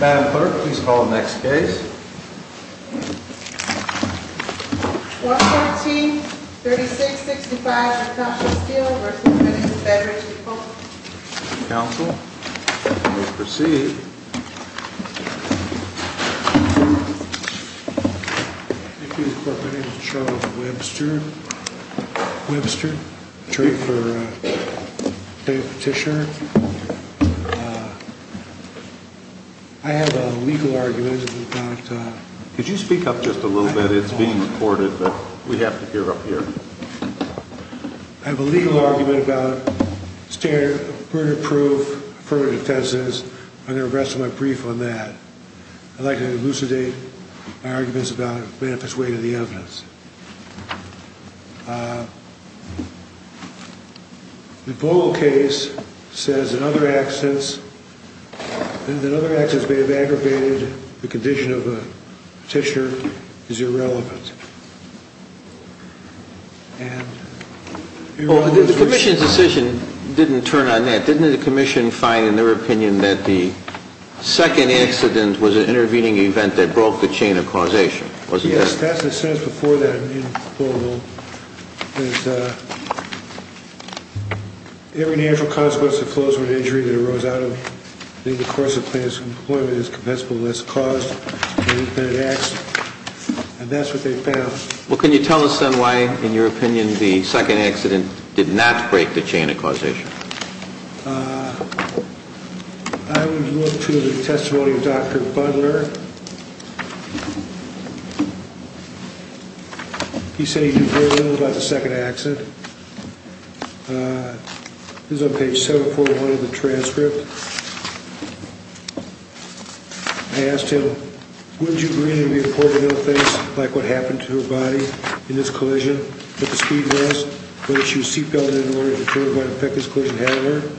Madam Clerk, please call the next case. 114-3665 McConnell Steele v. Fedrich & Co. Counsel, you may proceed. Thank you, Your Honor. My name is Charles Webster. Webster. Trade for Petitioner. I have a legal argument about... Could you speak up just a little bit? It's being recorded, but we have to hear up here. I have a legal argument about standard prudent proof, prudent offenses. I'm going to address my brief on that. I'd like to elucidate my arguments about a manifest way to the evidence. The Bogle case says that other accidents may have aggravated the condition of a petitioner is irrelevant. The Commission's decision didn't turn on that. Didn't the Commission find in their opinion that the second accident was an intervening event that broke the chain of causation? Yes, that's what it says before that in Bogle. There's a... Every natural consequence that flows from an injury that arose out of the course of the plaintiff's employment is compensable unless caused. And that's what they found. Well, can you tell us then why, in your opinion, the second accident did not break the chain of causation? I would look to the testimony of Dr. Butler. He said he knew very little about the second accident. This is on page 741 of the transcript. I asked him, would you agree that it would be appropriate to know things like what happened to her body in this collision, what the speed was, whether she was seat belted in order to determine what effect this collision had on her.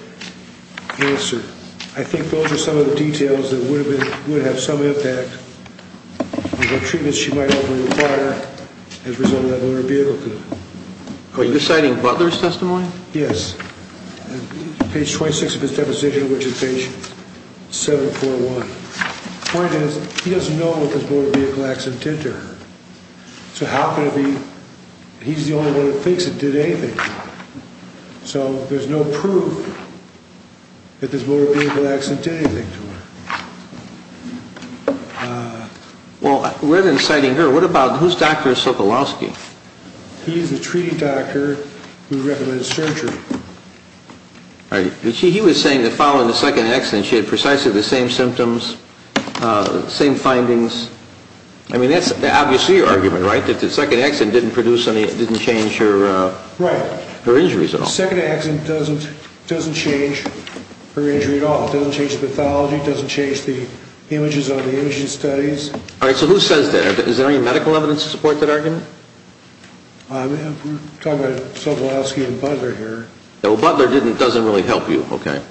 Answer, I think those are some of the details that would have been... And what treatments she might often require as a result of that motor vehicle collision. Are you citing Butler's testimony? Yes. Page 26 of his deposition, which is page 741. The point is, he doesn't know what this motor vehicle accident did to her. So how could it be that he's the only one who thinks it did anything to her? So there's no proof that this motor vehicle accident did anything to her. Well, rather than citing her, who's Dr. Sokolowski? He's the treating doctor who recommended surgery. He was saying that following the second accident, she had precisely the same symptoms, same findings. I mean, that's obviously your argument, right? That the second accident didn't change her injuries at all. Right. The second accident doesn't change her injury at all. It doesn't change the pathology. It doesn't change the images on the imaging studies. All right. So who says that? Is there any medical evidence to support that argument? We're talking about Sokolowski and Butler here. Butler doesn't really help you, okay?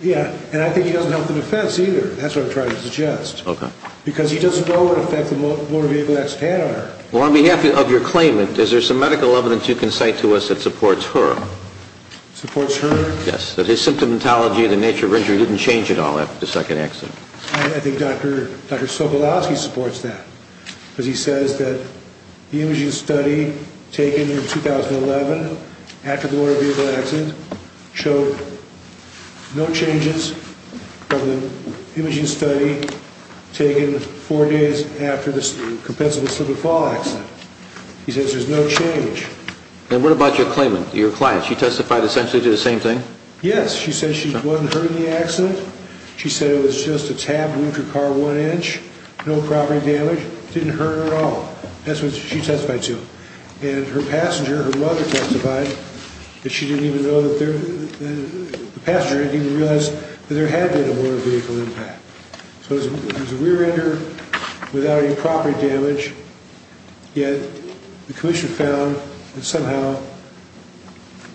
Yeah. And I think he doesn't help the defense either. That's what I'm trying to suggest. Okay. Because he doesn't know what effect the motor vehicle accident had on her. Well, on behalf of your claimant, is there some medical evidence you can cite to us that supports her? Supports her? Yes. That his symptomatology, the nature of injury, didn't change at all after the second accident. I think Dr. Sokolowski supports that. Because he says that the imaging study taken in 2011, after the motor vehicle accident, showed no changes from the imaging study taken four days after the compensable slip and fall accident. He says there's no change. And what about your claimant, your client? She testified essentially to the same thing? Yes. She said she wasn't hurt in the accident. She said it was just a tabbed wound to her car, one inch, no property damage. Didn't hurt her at all. That's what she testified to. And her passenger, her mother testified that she didn't even know that there – the passenger didn't even realize that there had been a motor vehicle impact. So it was a rear-ender without any property damage, yet the commission found that somehow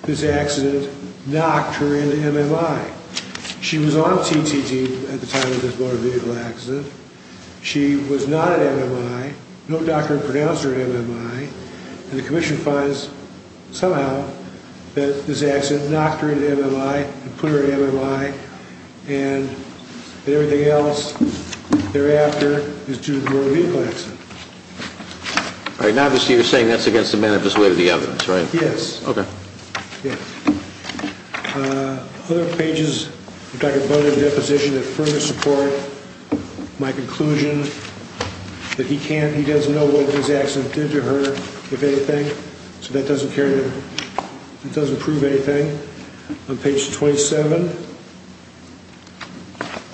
this accident knocked her into MMI. She was on TTT at the time of this motor vehicle accident. She was not at MMI. No doctor had pronounced her at MMI. And the commission finds, somehow, that this accident knocked her into MMI and put her at MMI, and that everything else thereafter is due to the motor vehicle accident. All right. Now, obviously, you're saying that's against the manifest way of the evidence, right? Yes. Okay. Yeah. Other pages of Dr. Butler's deposition that further support my conclusion that he can't – So that doesn't carry – that doesn't prove anything. On page 27,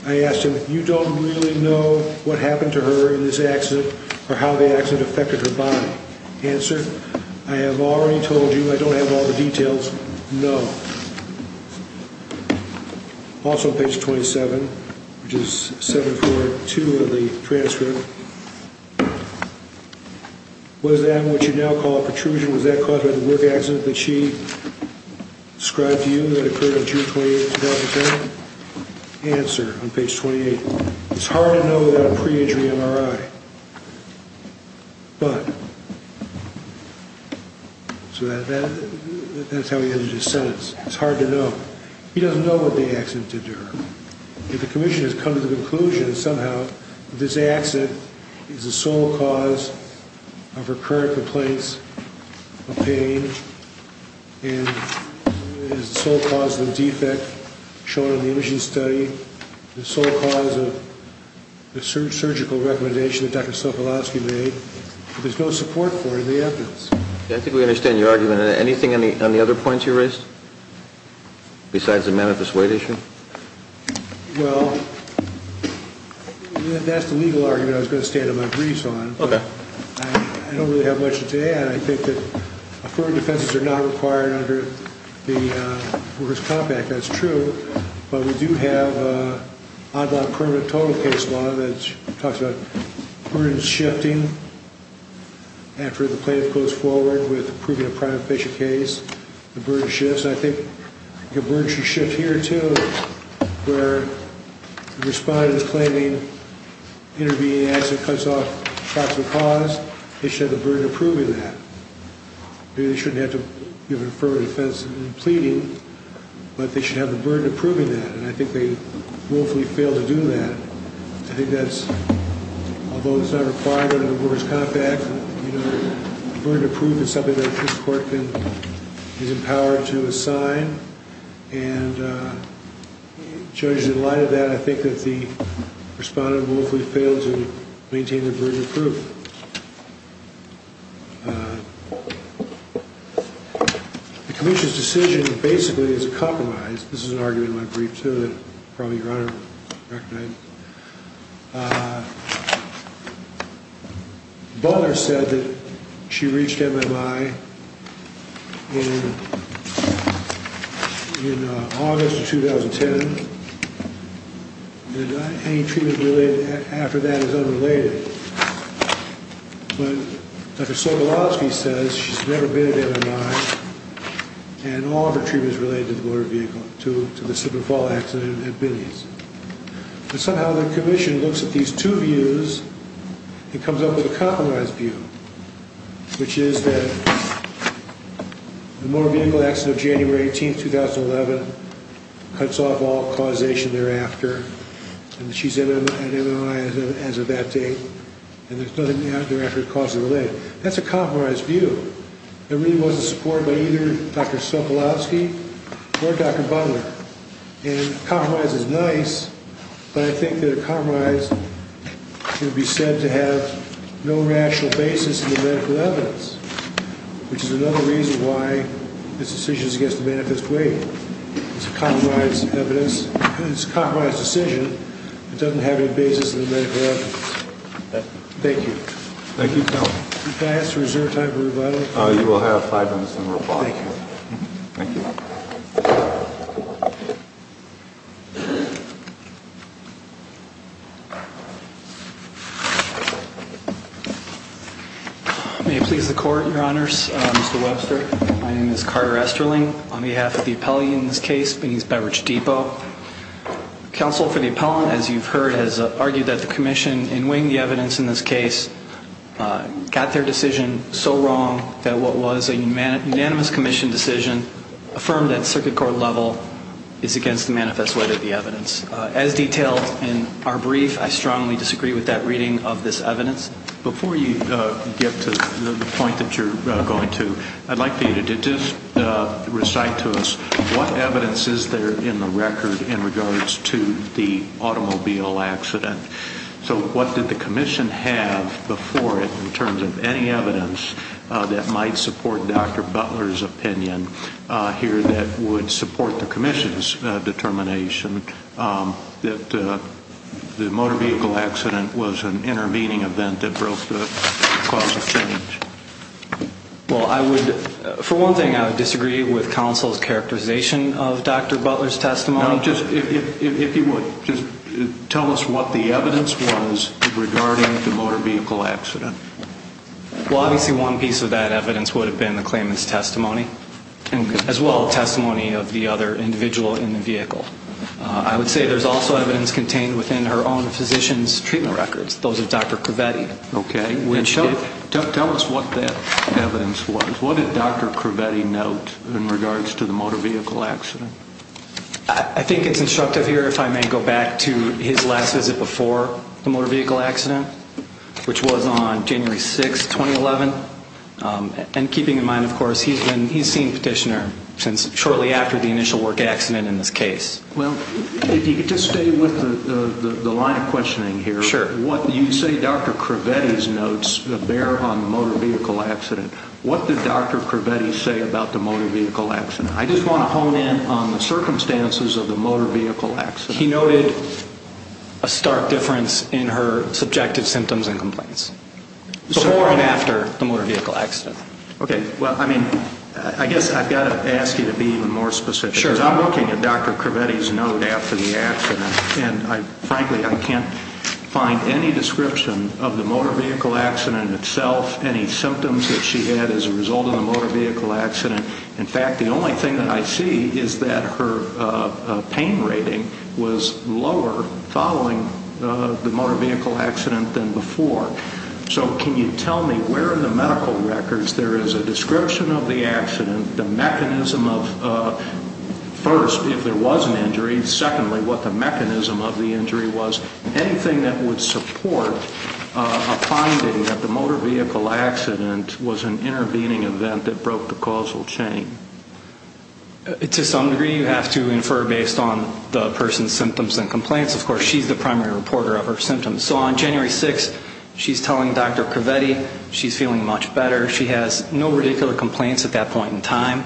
I asked him, You don't really know what happened to her in this accident or how the accident affected her body. Answer, I have already told you. I don't have all the details. No. Also on page 27, which is 742 of the transcript, was that what you now call a protrusion? Was that caused by the work accident that she described to you that occurred on June 28, 2010? Answer on page 28, It's hard to know without a pre-injury MRI, but – So that's how he ended his sentence. It's hard to know. He doesn't know what the accident did to her. If the commission has come to the conclusion that somehow this accident is the sole cause of her current place of pain, and is the sole cause of the defect shown in the imaging study, the sole cause of the surgical recommendation that Dr. Sokolowski made, there's no support for it in the evidence. I think we understand your argument. Anything on the other points you raised besides the manifest weight issue? Well, that's the legal argument I was going to stand on my briefs on. Okay. I don't really have much to add. I think that affirmative defenses are not required under the Workers' Compact. That's true. But we do have a permanent total case law that talks about burdens shifting after the plaintiff goes forward with approving a prima facie case. The burden shifts. I think the burden should shift here too, where the respondent is claiming intervening accident cuts off possible cause. They should have the burden of proving that. Maybe they shouldn't have to give an affirmative defense in pleading, but they should have the burden of proving that, and I think they willfully fail to do that. I think that's, although it's not required under the Workers' Compact, the burden of proof is something that this court is empowered to assign, and judges in light of that, I think that the respondent willfully failed to maintain the burden of proof. The commission's decision basically is a compromise. This is an argument in my brief too that probably your Honor will recognize. Butler said that she reached MMI in August of 2010, and any treatment related after that is unrelated. But Dr. Sobolowski says she's never been at MMI, and all of her treatment is related to the motor vehicle, to the Slippery Fall accident at Binney's. But somehow the commission looks at these two views and comes up with a compromise view, which is that the motor vehicle accident of January 18, 2011, cuts off all causation thereafter, and she's at MMI as of that date, and there's nothing thereafter that causes it to relate. That's a compromise view. There really wasn't support by either Dr. Sobolowski or Dr. Butler. And compromise is nice, but I think that a compromise would be said to have no rational basis in the medical evidence, which is another reason why this decision is against the manifest way. It's a compromise decision that doesn't have any basis in the medical evidence. Thank you. Thank you, Counsel. Can I ask for a reserve time for rebuttal? You will have five minutes in rebuttal. Thank you. May it please the Court, Your Honors. Mr. Webster, my name is Carter Esterling. On behalf of the appellee in this case, Bennings Beverage Depot, counsel for the appellant, as you've heard, has argued that the commission in weighing the evidence in this case got their decision so wrong that what was a unanimous commission decision affirmed at circuit court level is against the manifest way of the evidence. As detailed in our brief, I strongly disagree with that reading of this evidence. Before you get to the point that you're going to, I'd like you to just recite to us what evidence is there in the record in regards to the automobile accident. So what did the commission have before it in terms of any evidence that might support Dr. Butler's opinion here that would support the commission's determination that the motor vehicle accident was an intervening event that broke the clause of change? Well, for one thing, I would disagree with counsel's characterization of Dr. Butler's testimony. If you would, just tell us what the evidence was regarding the motor vehicle accident. Well, obviously one piece of that evidence would have been the claimant's testimony as well as testimony of the other individual in the vehicle. I would say there's also evidence contained within her own physician's treatment records, those of Dr. Cravetti. Okay. Tell us what that evidence was. What did Dr. Cravetti note in regards to the motor vehicle accident? I think it's instructive here, if I may go back to his last visit before the motor vehicle accident, which was on January 6, 2011, and keeping in mind, of course, he's seen Petitioner since shortly after the initial work accident in this case. Well, if you could just stay with the line of questioning here. Sure. You say Dr. Cravetti's notes bear on the motor vehicle accident. What did Dr. Cravetti say about the motor vehicle accident? I just want to hone in on the circumstances of the motor vehicle accident. He noted a stark difference in her subjective symptoms and complaints, before and after the motor vehicle accident. Okay. Well, I mean, I guess I've got to ask you to be even more specific. Sure. Because I'm looking at Dr. Cravetti's note after the accident, and, frankly, I can't find any description of the motor vehicle accident itself, any symptoms that she had as a result of the motor vehicle accident. In fact, the only thing that I see is that her pain rating was lower following the motor vehicle accident than before. So can you tell me where in the medical records there is a description of the accident, the mechanism of, first, if there was an injury, secondly, what the mechanism of the injury was, anything that would support a finding that the motor vehicle accident was an intervening event that broke the causal chain? To some degree, you have to infer based on the person's symptoms and complaints. Of course, she's the primary reporter of her symptoms. So on January 6th, she's telling Dr. Cravetti she's feeling much better. She has no radicular complaints at that point in time.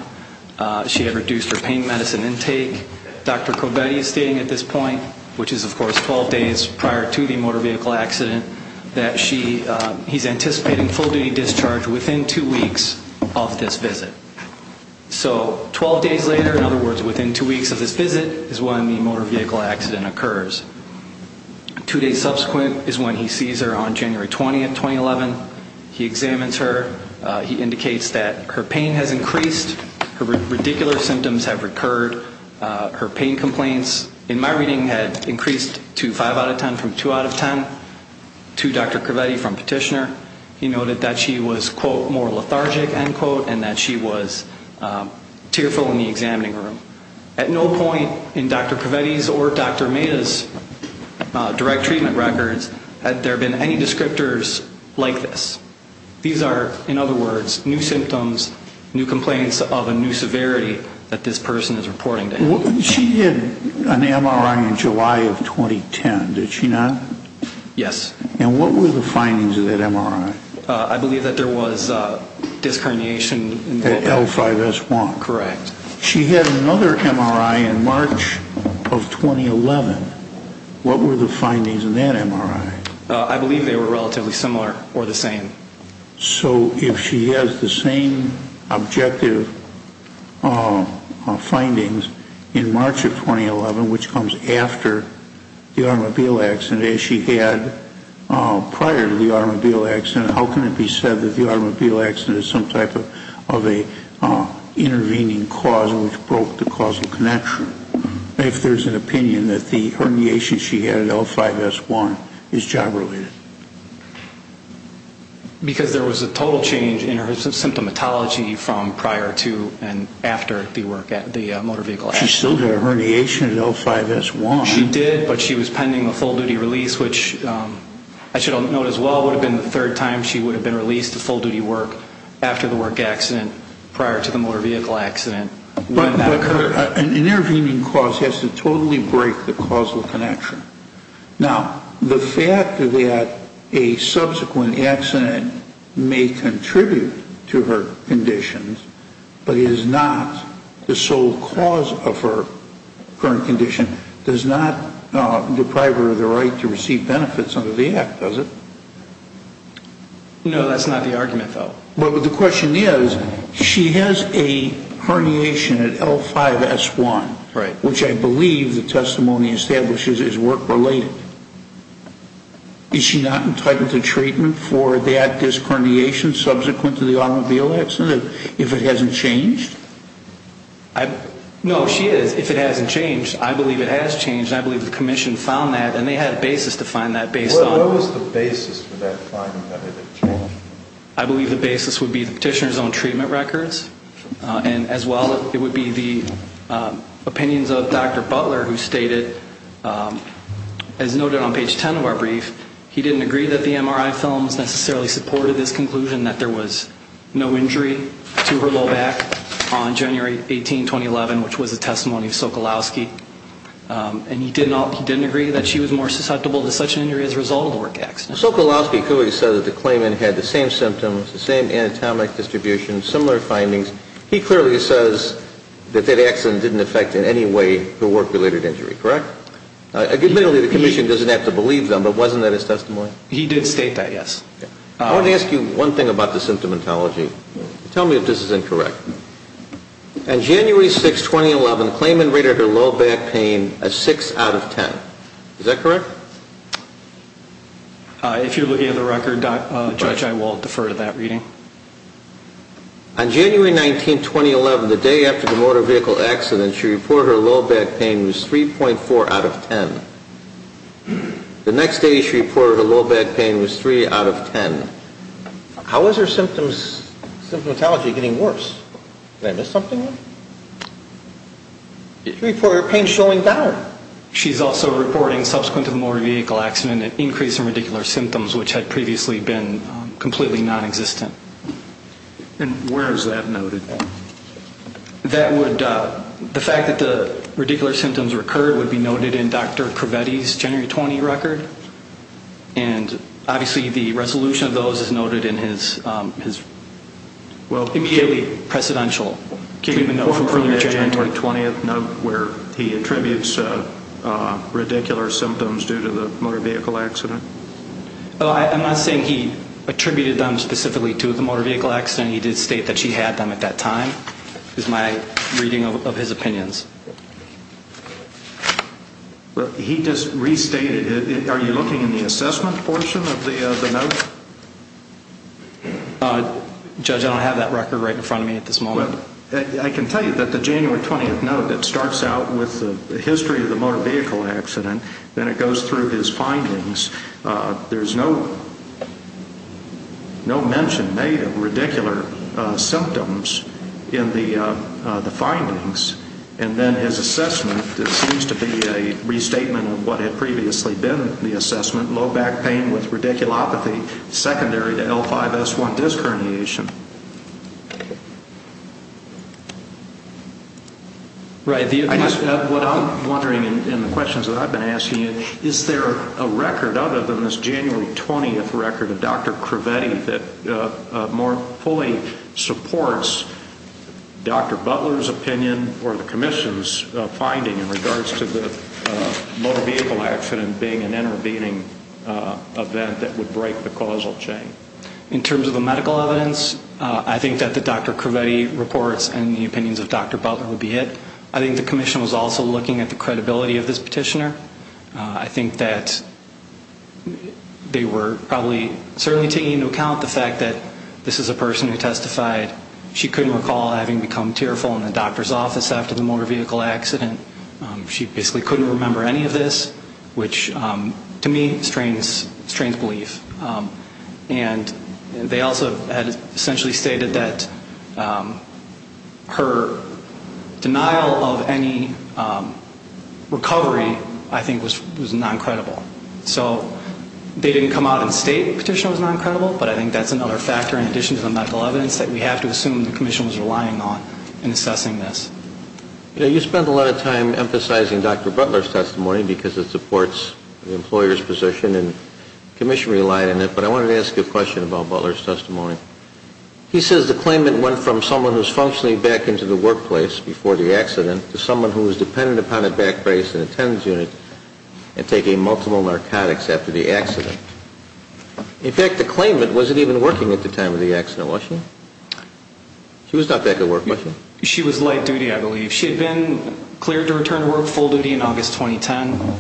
She had reduced her pain medicine intake. Dr. Cravetti is stating at this point, which is, of course, 12 days prior to the motor vehicle accident, that he's anticipating full-duty discharge within two weeks of this visit. So 12 days later, in other words, within two weeks of this visit, is when the motor vehicle accident occurs. Two days subsequent is when he sees her on January 20th, 2011. He examines her. He indicates that her pain has increased. Her radicular symptoms have recurred. Her pain complaints, in my reading, had increased to 5 out of 10 from 2 out of 10. To Dr. Cravetti from Petitioner, he noted that she was, quote, more lethargic, end quote, and that she was tearful in the examining room. At no point in Dr. Cravetti's or Dr. Meda's direct treatment records had there been any descriptors like this. These are, in other words, new symptoms, new complaints of a new severity that this person is reporting to him. She had an MRI in July of 2010, did she not? Yes. And what were the findings of that MRI? I believe that there was disc herniation. At L5S1. Correct. She had another MRI in March of 2011. What were the findings of that MRI? I believe they were relatively similar or the same. So if she has the same objective findings in March of 2011, which comes after the automobile accident as she had prior to the automobile accident, how can it be said that the automobile accident is some type of an intervening cause which broke the causal connection? If there's an opinion that the herniation she had at L5S1 is job related. Because there was a total change in her symptomatology from prior to and after the work at the motor vehicle accident. She still had a herniation at L5S1. She did, but she was pending a full duty release, which I should note as well, would have been the third time she would have been released to full duty work after the work accident, prior to the motor vehicle accident. But an intervening cause has to totally break the causal connection. Now, the fact that a subsequent accident may contribute to her conditions, but is not the sole cause of her current condition, does not deprive her of the right to receive benefits under the Act, does it? No, that's not the argument, though. But the question is, she has a herniation at L5S1, which I believe the testimony establishes is work related. Is she not entitled to treatment for that disc herniation subsequent to the automobile accident? If it hasn't changed? No, she is, if it hasn't changed. I believe it has changed, and I believe the Commission found that, and they had a basis to find that based on. What was the basis for that finding that it had changed? I believe the basis would be the petitioner's own treatment records, and as well it would be the opinions of Dr. Butler, who stated, as noted on page 10 of our brief, he didn't agree that the MRI films necessarily supported this conclusion, that there was no injury to her low back on January 18, 2011, which was a testimony of Sokolowski, and he didn't agree that she was more susceptible to such an injury as a result of a work accident. Sokolowski clearly said that the claimant had the same symptoms, the same anatomic distribution, similar findings. He clearly says that that accident didn't affect in any way her work-related injury, correct? Admittedly, the Commission doesn't have to believe them, but wasn't that his testimony? He did state that, yes. I want to ask you one thing about the symptomatology. Tell me if this is incorrect. On January 6, 2011, the claimant rated her low back pain a 6 out of 10. Is that correct? If you're looking at the record, Judge, I will defer to that reading. On January 19, 2011, the day after the motor vehicle accident, she reported her low back pain was 3.4 out of 10. The next day she reported her low back pain was 3 out of 10. How is her symptomatology getting worse? Did I miss something? She reported her pain showing down. She's also reporting, subsequent to the motor vehicle accident, an increase in radicular symptoms, which had previously been completely nonexistent. And where is that noted? The fact that the radicular symptoms recurred would be noted in Dr. Cravetti's January 20 record, and obviously the resolution of those is noted in his immediately precedential treatment note I'm not saying he attributed them specifically to the motor vehicle accident. He did state that she had them at that time is my reading of his opinions. He just restated it. Are you looking in the assessment portion of the note? Judge, I don't have that record right in front of me at this moment. I can tell you that the January 20th note that starts out with the history of the motor vehicle accident, then it goes through his findings. There's no mention made of radicular symptoms in the findings. And then his assessment, it seems to be a restatement of what had previously been the assessment, low back pain with radiculopathy, secondary to L5-S1 disc herniation. What I'm wondering in the questions that I've been asking you, is there a record other than this January 20th record of Dr. Cravetti that more fully supports Dr. Butler's opinion or the commission's finding in regards to the motor vehicle accident being an intervening event that would break the causal chain? In terms of the medical evidence, I think that the Dr. Cravetti reports and the opinions of Dr. Butler would be it. I think the commission was also looking at the credibility of this petitioner. I think that they were probably certainly taking into account the fact that this is a person who testified. She couldn't recall having become tearful in the doctor's office after the motor vehicle accident. She basically couldn't remember any of this, which to me strains belief. And they also had essentially stated that her denial of any recovery, I think, was non-credible. So they didn't come out and state the petitioner was non-credible, but I think that's another factor in addition to the medical evidence that we have to assume the commission was relying on in assessing this. You spent a lot of time emphasizing Dr. Butler's testimony because it supports the employer's position and the commission relied on it, but I wanted to ask you a question about Butler's testimony. He says the claimant went from someone who was functioning back into the workplace before the accident to someone who was dependent upon a back brace and a TENS unit and taking multiple narcotics after the accident. In fact, the claimant wasn't even working at the time of the accident, was she? She was not back at work, was she? She was late duty, I believe. She had been cleared to return to work full duty in August 2010.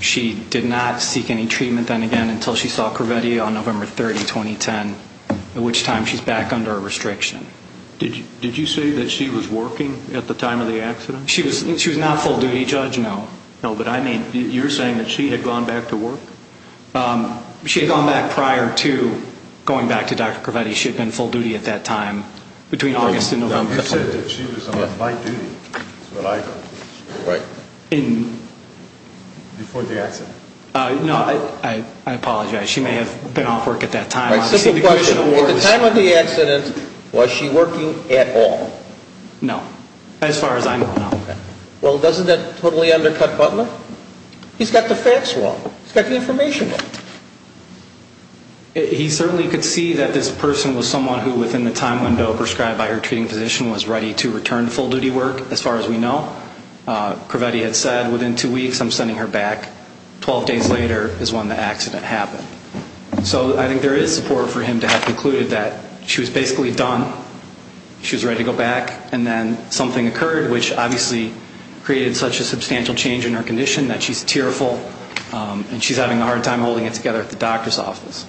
She did not seek any treatment then again until she saw Corvette on November 30, 2010, at which time she's back under a restriction. Did you say that she was working at the time of the accident? She was not full duty, Judge, no. No, but I mean you're saying that she had gone back to work? She had gone back prior to going back to Dr. Corvette. She had been full duty at that time between August and November. You said that she was on late duty, is what I know. Right. Before the accident. No, I apologize. She may have been off work at that time. The question was at the time of the accident, was she working at all? No, as far as I know, no. Well, doesn't that totally undercut Butler? He's got the facts wrong. He's got the information wrong. He certainly could see that this person was someone who, within the time window prescribed by her treating physician, was ready to return to full duty work, as far as we know. Corvette had said, within two weeks, I'm sending her back. Twelve days later is when the accident happened. So I think there is support for him to have concluded that she was basically done, she was ready to go back, and then something occurred, which obviously created such a substantial change in her condition that she's tearful, and she's having a hard time holding it together at the doctor's office.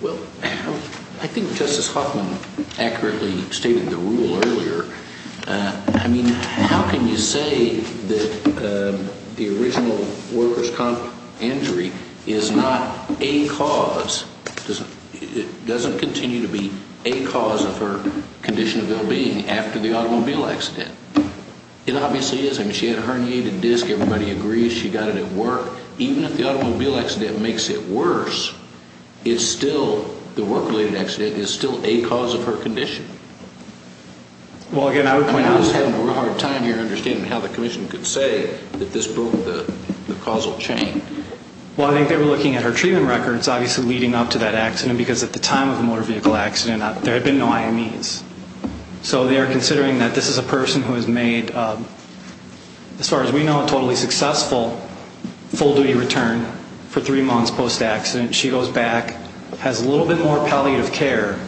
Well, I think Justice Hoffman accurately stated the rule earlier. I mean, how can you say that the original workers' comp injury is not a cause, it doesn't continue to be a cause of her condition of well-being after the automobile accident? It obviously is. I mean, she had a herniated disc. Everybody agrees she got it at work. Even if the automobile accident makes it worse, it's still, the work-related accident is still a cause of her condition. Well, again, I would point out, I'm just having a real hard time here understanding how the commission could say that this broke the causal chain. Well, I think they were looking at her treatment records, obviously, leading up to that accident, because at the time of the motor vehicle accident, there had been no IMEs. So they are considering that this is a person who has made, as far as we know, a totally successful full-duty return for three months post-accident. She goes back, has a little bit more palliative care,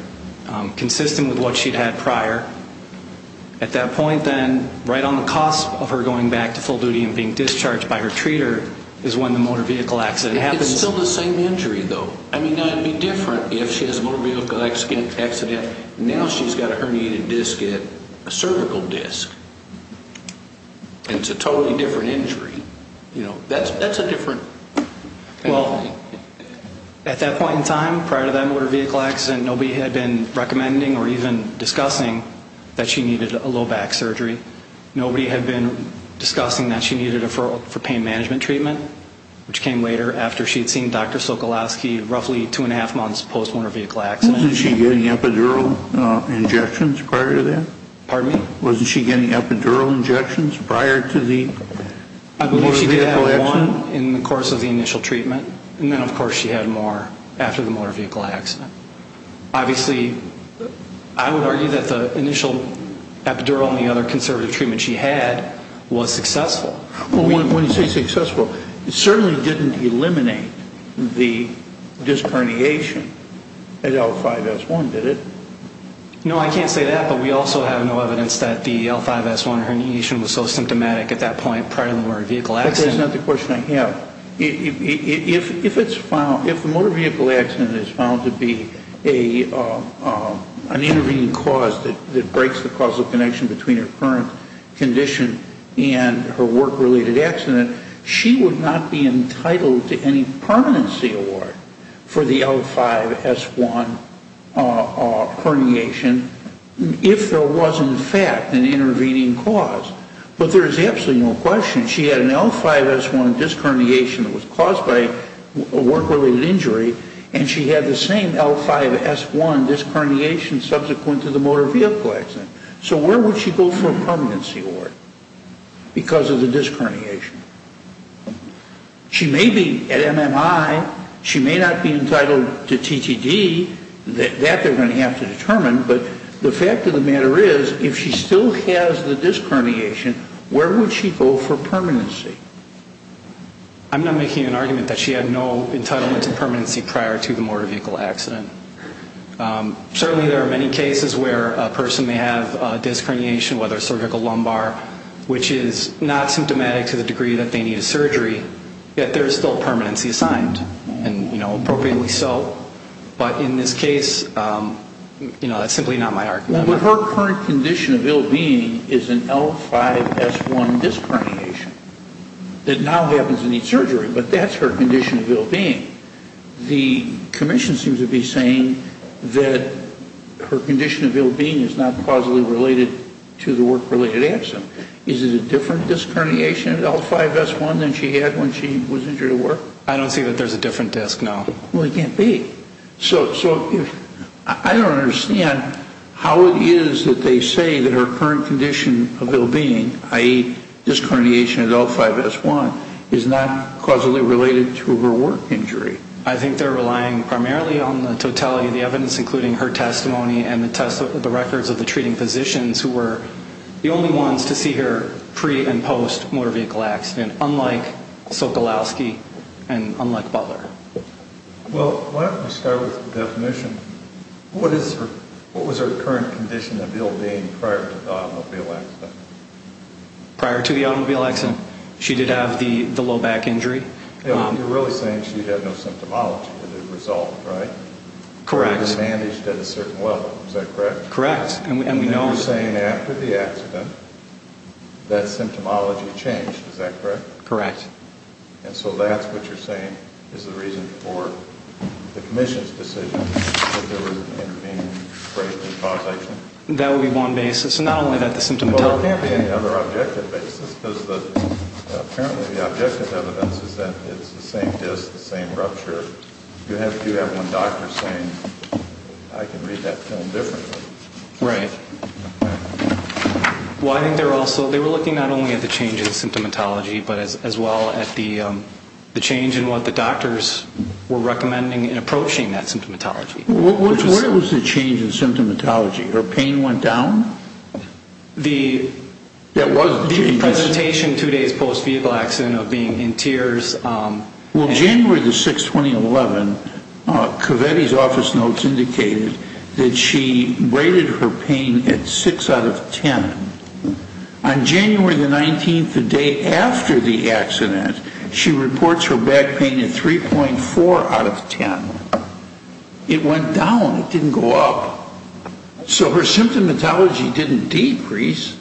consistent with what she'd had prior. At that point, then, right on the cusp of her going back to full duty and being discharged by her treater is when the motor vehicle accident happens. It's still the same injury, though. I mean, now it would be different if she has a motor vehicle accident. Now she's got a herniated disc at a cervical disc, and it's a totally different injury. You know, that's a different thing. Well, at that point in time, prior to that motor vehicle accident, nobody had been recommending or even discussing that she needed a low-back surgery. Nobody had been discussing that she needed a deferral for pain management treatment, which came later after she had seen Dr. Sokolowski roughly two-and-a-half months post-motor vehicle accident. Wasn't she getting epidural injections prior to that? Pardon me? Wasn't she getting epidural injections prior to the motor vehicle accident? I believe she did have one in the course of the initial treatment, and then, of course, she had more after the motor vehicle accident. Obviously, I would argue that the initial epidural and the other conservative treatment she had was successful. When you say successful, it certainly didn't eliminate the disc herniation at L5-S1, did it? No, I can't say that, but we also have no evidence that the L5-S1 herniation was so symptomatic at that point prior to the motor vehicle accident. That's not the question I have. If the motor vehicle accident is found to be an intervening cause that breaks the causal connection between her current condition and her work-related accident, she would not be entitled to any permanency award for the L5-S1 herniation if there was, in fact, an intervening cause. But there is absolutely no question. And she had an L5-S1 disc herniation that was caused by a work-related injury, and she had the same L5-S1 disc herniation subsequent to the motor vehicle accident. So where would she go for a permanency award because of the disc herniation? She may be at MMI. She may not be entitled to TTD. That they're going to have to determine. But the fact of the matter is, if she still has the disc herniation, where would she go for permanency? I'm not making an argument that she had no entitlement to permanency prior to the motor vehicle accident. Certainly there are many cases where a person may have a disc herniation, whether a surgical lumbar, which is not symptomatic to the degree that they need a surgery, yet there is still permanency assigned, and appropriately so. But in this case, you know, that's simply not my argument. But her current condition of ill-being is an L5-S1 disc herniation that now happens to need surgery. But that's her condition of ill-being. The commission seems to be saying that her condition of ill-being is not causally related to the work-related accident. Is it a different disc herniation, L5-S1, than she had when she was injured at work? I don't see that there's a different disc, no. Well, there can't be. So I don't understand how it is that they say that her current condition of ill-being, i.e., disc herniation at L5-S1, is not causally related to her work injury. I think they're relying primarily on the totality of the evidence, including her testimony and the records of the treating physicians, who were the only ones to see her pre- and post-motor vehicle accident, unlike Sokolowski and unlike Butler. Well, why don't we start with the definition. What was her current condition of ill-being prior to the automobile accident? Prior to the automobile accident, she did have the low back injury. You're really saying she had no symptomology that had resulted, right? Correct. It was managed at a certain level, is that correct? Correct. And you're saying after the accident that symptomology changed, is that correct? Correct. And so that's what you're saying is the reason for the commission's decision that there was an intervening brachial causation? That would be one basis. Not only that, the symptomatology. Well, it would be another objective basis, because apparently the objective evidence is that it's the same disc, the same rupture. You have one doctor saying, I can read that film differently. Right. Well, I think they were looking not only at the changes in symptomatology, but as well at the change in what the doctors were recommending in approaching that symptomatology. Where was the change in symptomatology? Her pain went down? The presentation two days post-vehicle accident of being in tears. Well, January the 6th, 2011, Covetti's office notes indicated that she rated her pain at 6 out of 10. On January the 19th, the day after the accident, she reports her back pain at 3.4 out of 10. It went down. It didn't go up. So her symptomatology didn't decrease.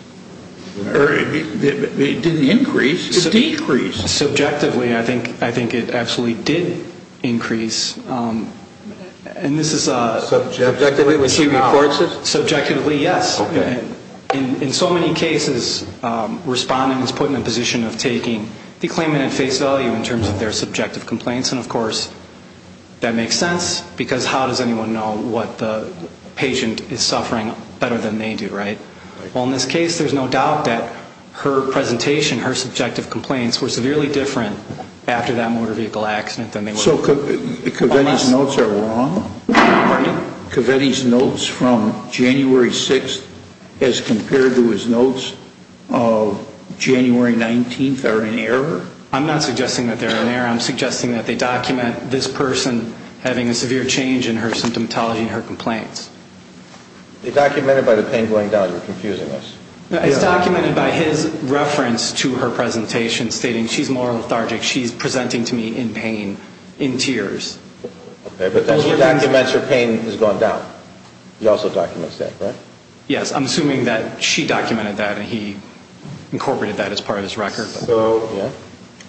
It didn't increase. It decreased. Subjectively, I think it actually did increase. Subjectively, when she reports it? Subjectively, yes. In so many cases, respondents put in a position of taking the claimant at face value in terms of their subjective complaints, and, of course, that makes sense, because how does anyone know what the patient is suffering better than they do, right? Well, in this case, there's no doubt that her presentation, her subjective complaints were severely different after that motor vehicle accident. So Covetti's notes are wrong? Pardon me? Covetti's notes from January 6th as compared to his notes of January 19th are in error? I'm not suggesting that they're in error. I'm suggesting that they document this person having a severe change in her symptomatology and her complaints. They documented by the pain going down. You're confusing us. It's documented by his reference to her presentation stating she's more lethargic, she's presenting to me in pain, in tears. Okay, but that's what documents her pain has gone down. He also documents that, right? Yes. I'm assuming that she documented that and he incorporated that as part of his record.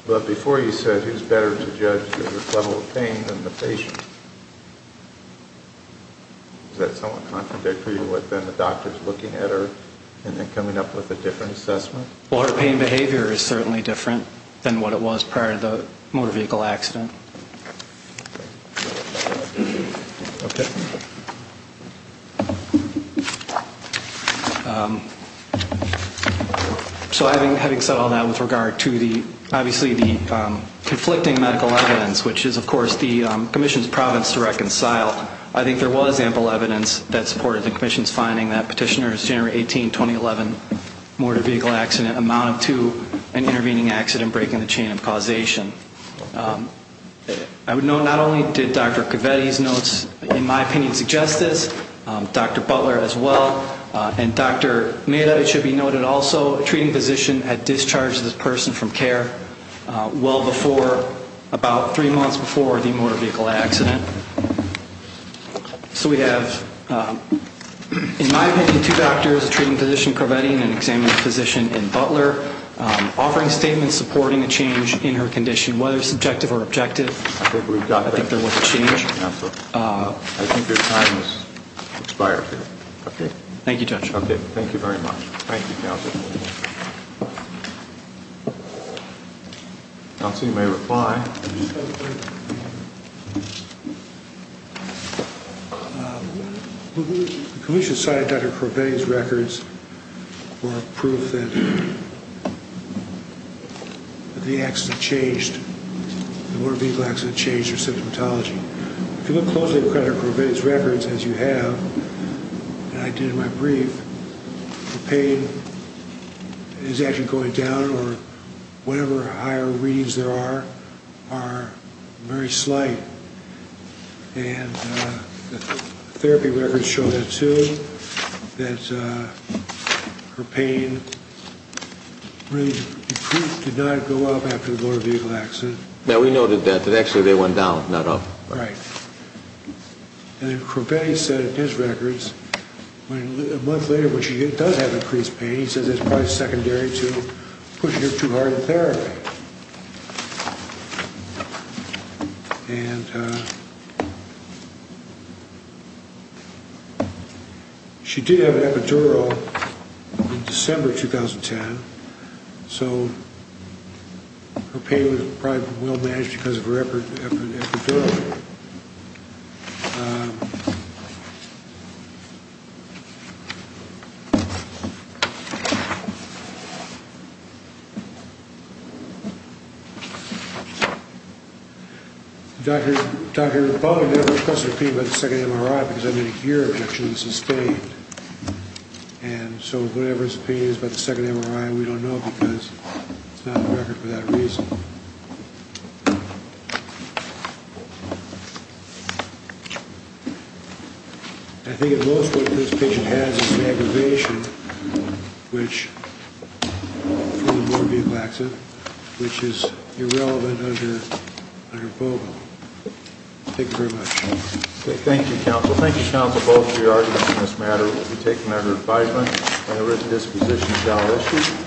But before you said who's better to judge the level of pain than the patient, is that somewhat contradictory to what then the doctor's looking at and then coming up with a different assessment? Well, her pain behavior is certainly different than what it was prior to the motor vehicle accident. Okay. So having said all that with regard to the, obviously, the conflicting medical evidence, which is, of course, the commission's province to reconcile, I think there was ample evidence that supported the commission's finding that Petitioner's January 18, 2011 motor vehicle accident amounted to an intervening accident breaking the chain of causation. I would note not only did Dr. Cavetti's notes, in my opinion, suggest this, Dr. Butler as well, and Dr. Neda, it should be noted also, treating physician had discharged this person from care well before, about three months before the motor vehicle accident. So we have, in my opinion, two doctors, a treating physician, Cavetti and an examining physician in Butler, offering statements supporting a change in her condition, whether subjective or objective. I think we've got that. I think there was a change. I think your time has expired here. Thank you, Judge. Thank you very much. Thank you, Counsel. Counsel, you may reply. The commission cited Dr. Cavetti's records for proof that the accident changed, the motor vehicle accident changed her symptomatology. If you look closely at Dr. Cavetti's records, as you have, and I did in my brief, the pain is actually going down, or whatever higher readings there are, are very slight. And the therapy records show that, too, that her pain really did not go up after the motor vehicle accident. Yeah, we noted that, that actually they went down, not up. Right. And then Cavetti said in his records, a month later when she does have increased pain, he says it's probably secondary to pushing her too hard in therapy. And she did have an epidural in December 2010, so her pain was probably well-managed because of her epidural. Dr. Bonner never expressed her pain by the second MRI because I did a year of action and sustained. And so whatever his pain is by the second MRI, we don't know because it's not on the record for that reason. I think at most what this patient has is an aggravation from the motor vehicle accident, which is irrelevant under BOVA. Thank you very much. Okay, thank you, counsel. Thank you, counsel, both for your arguments on this matter. We'll be taking that under advisement whenever the disposition is not issued.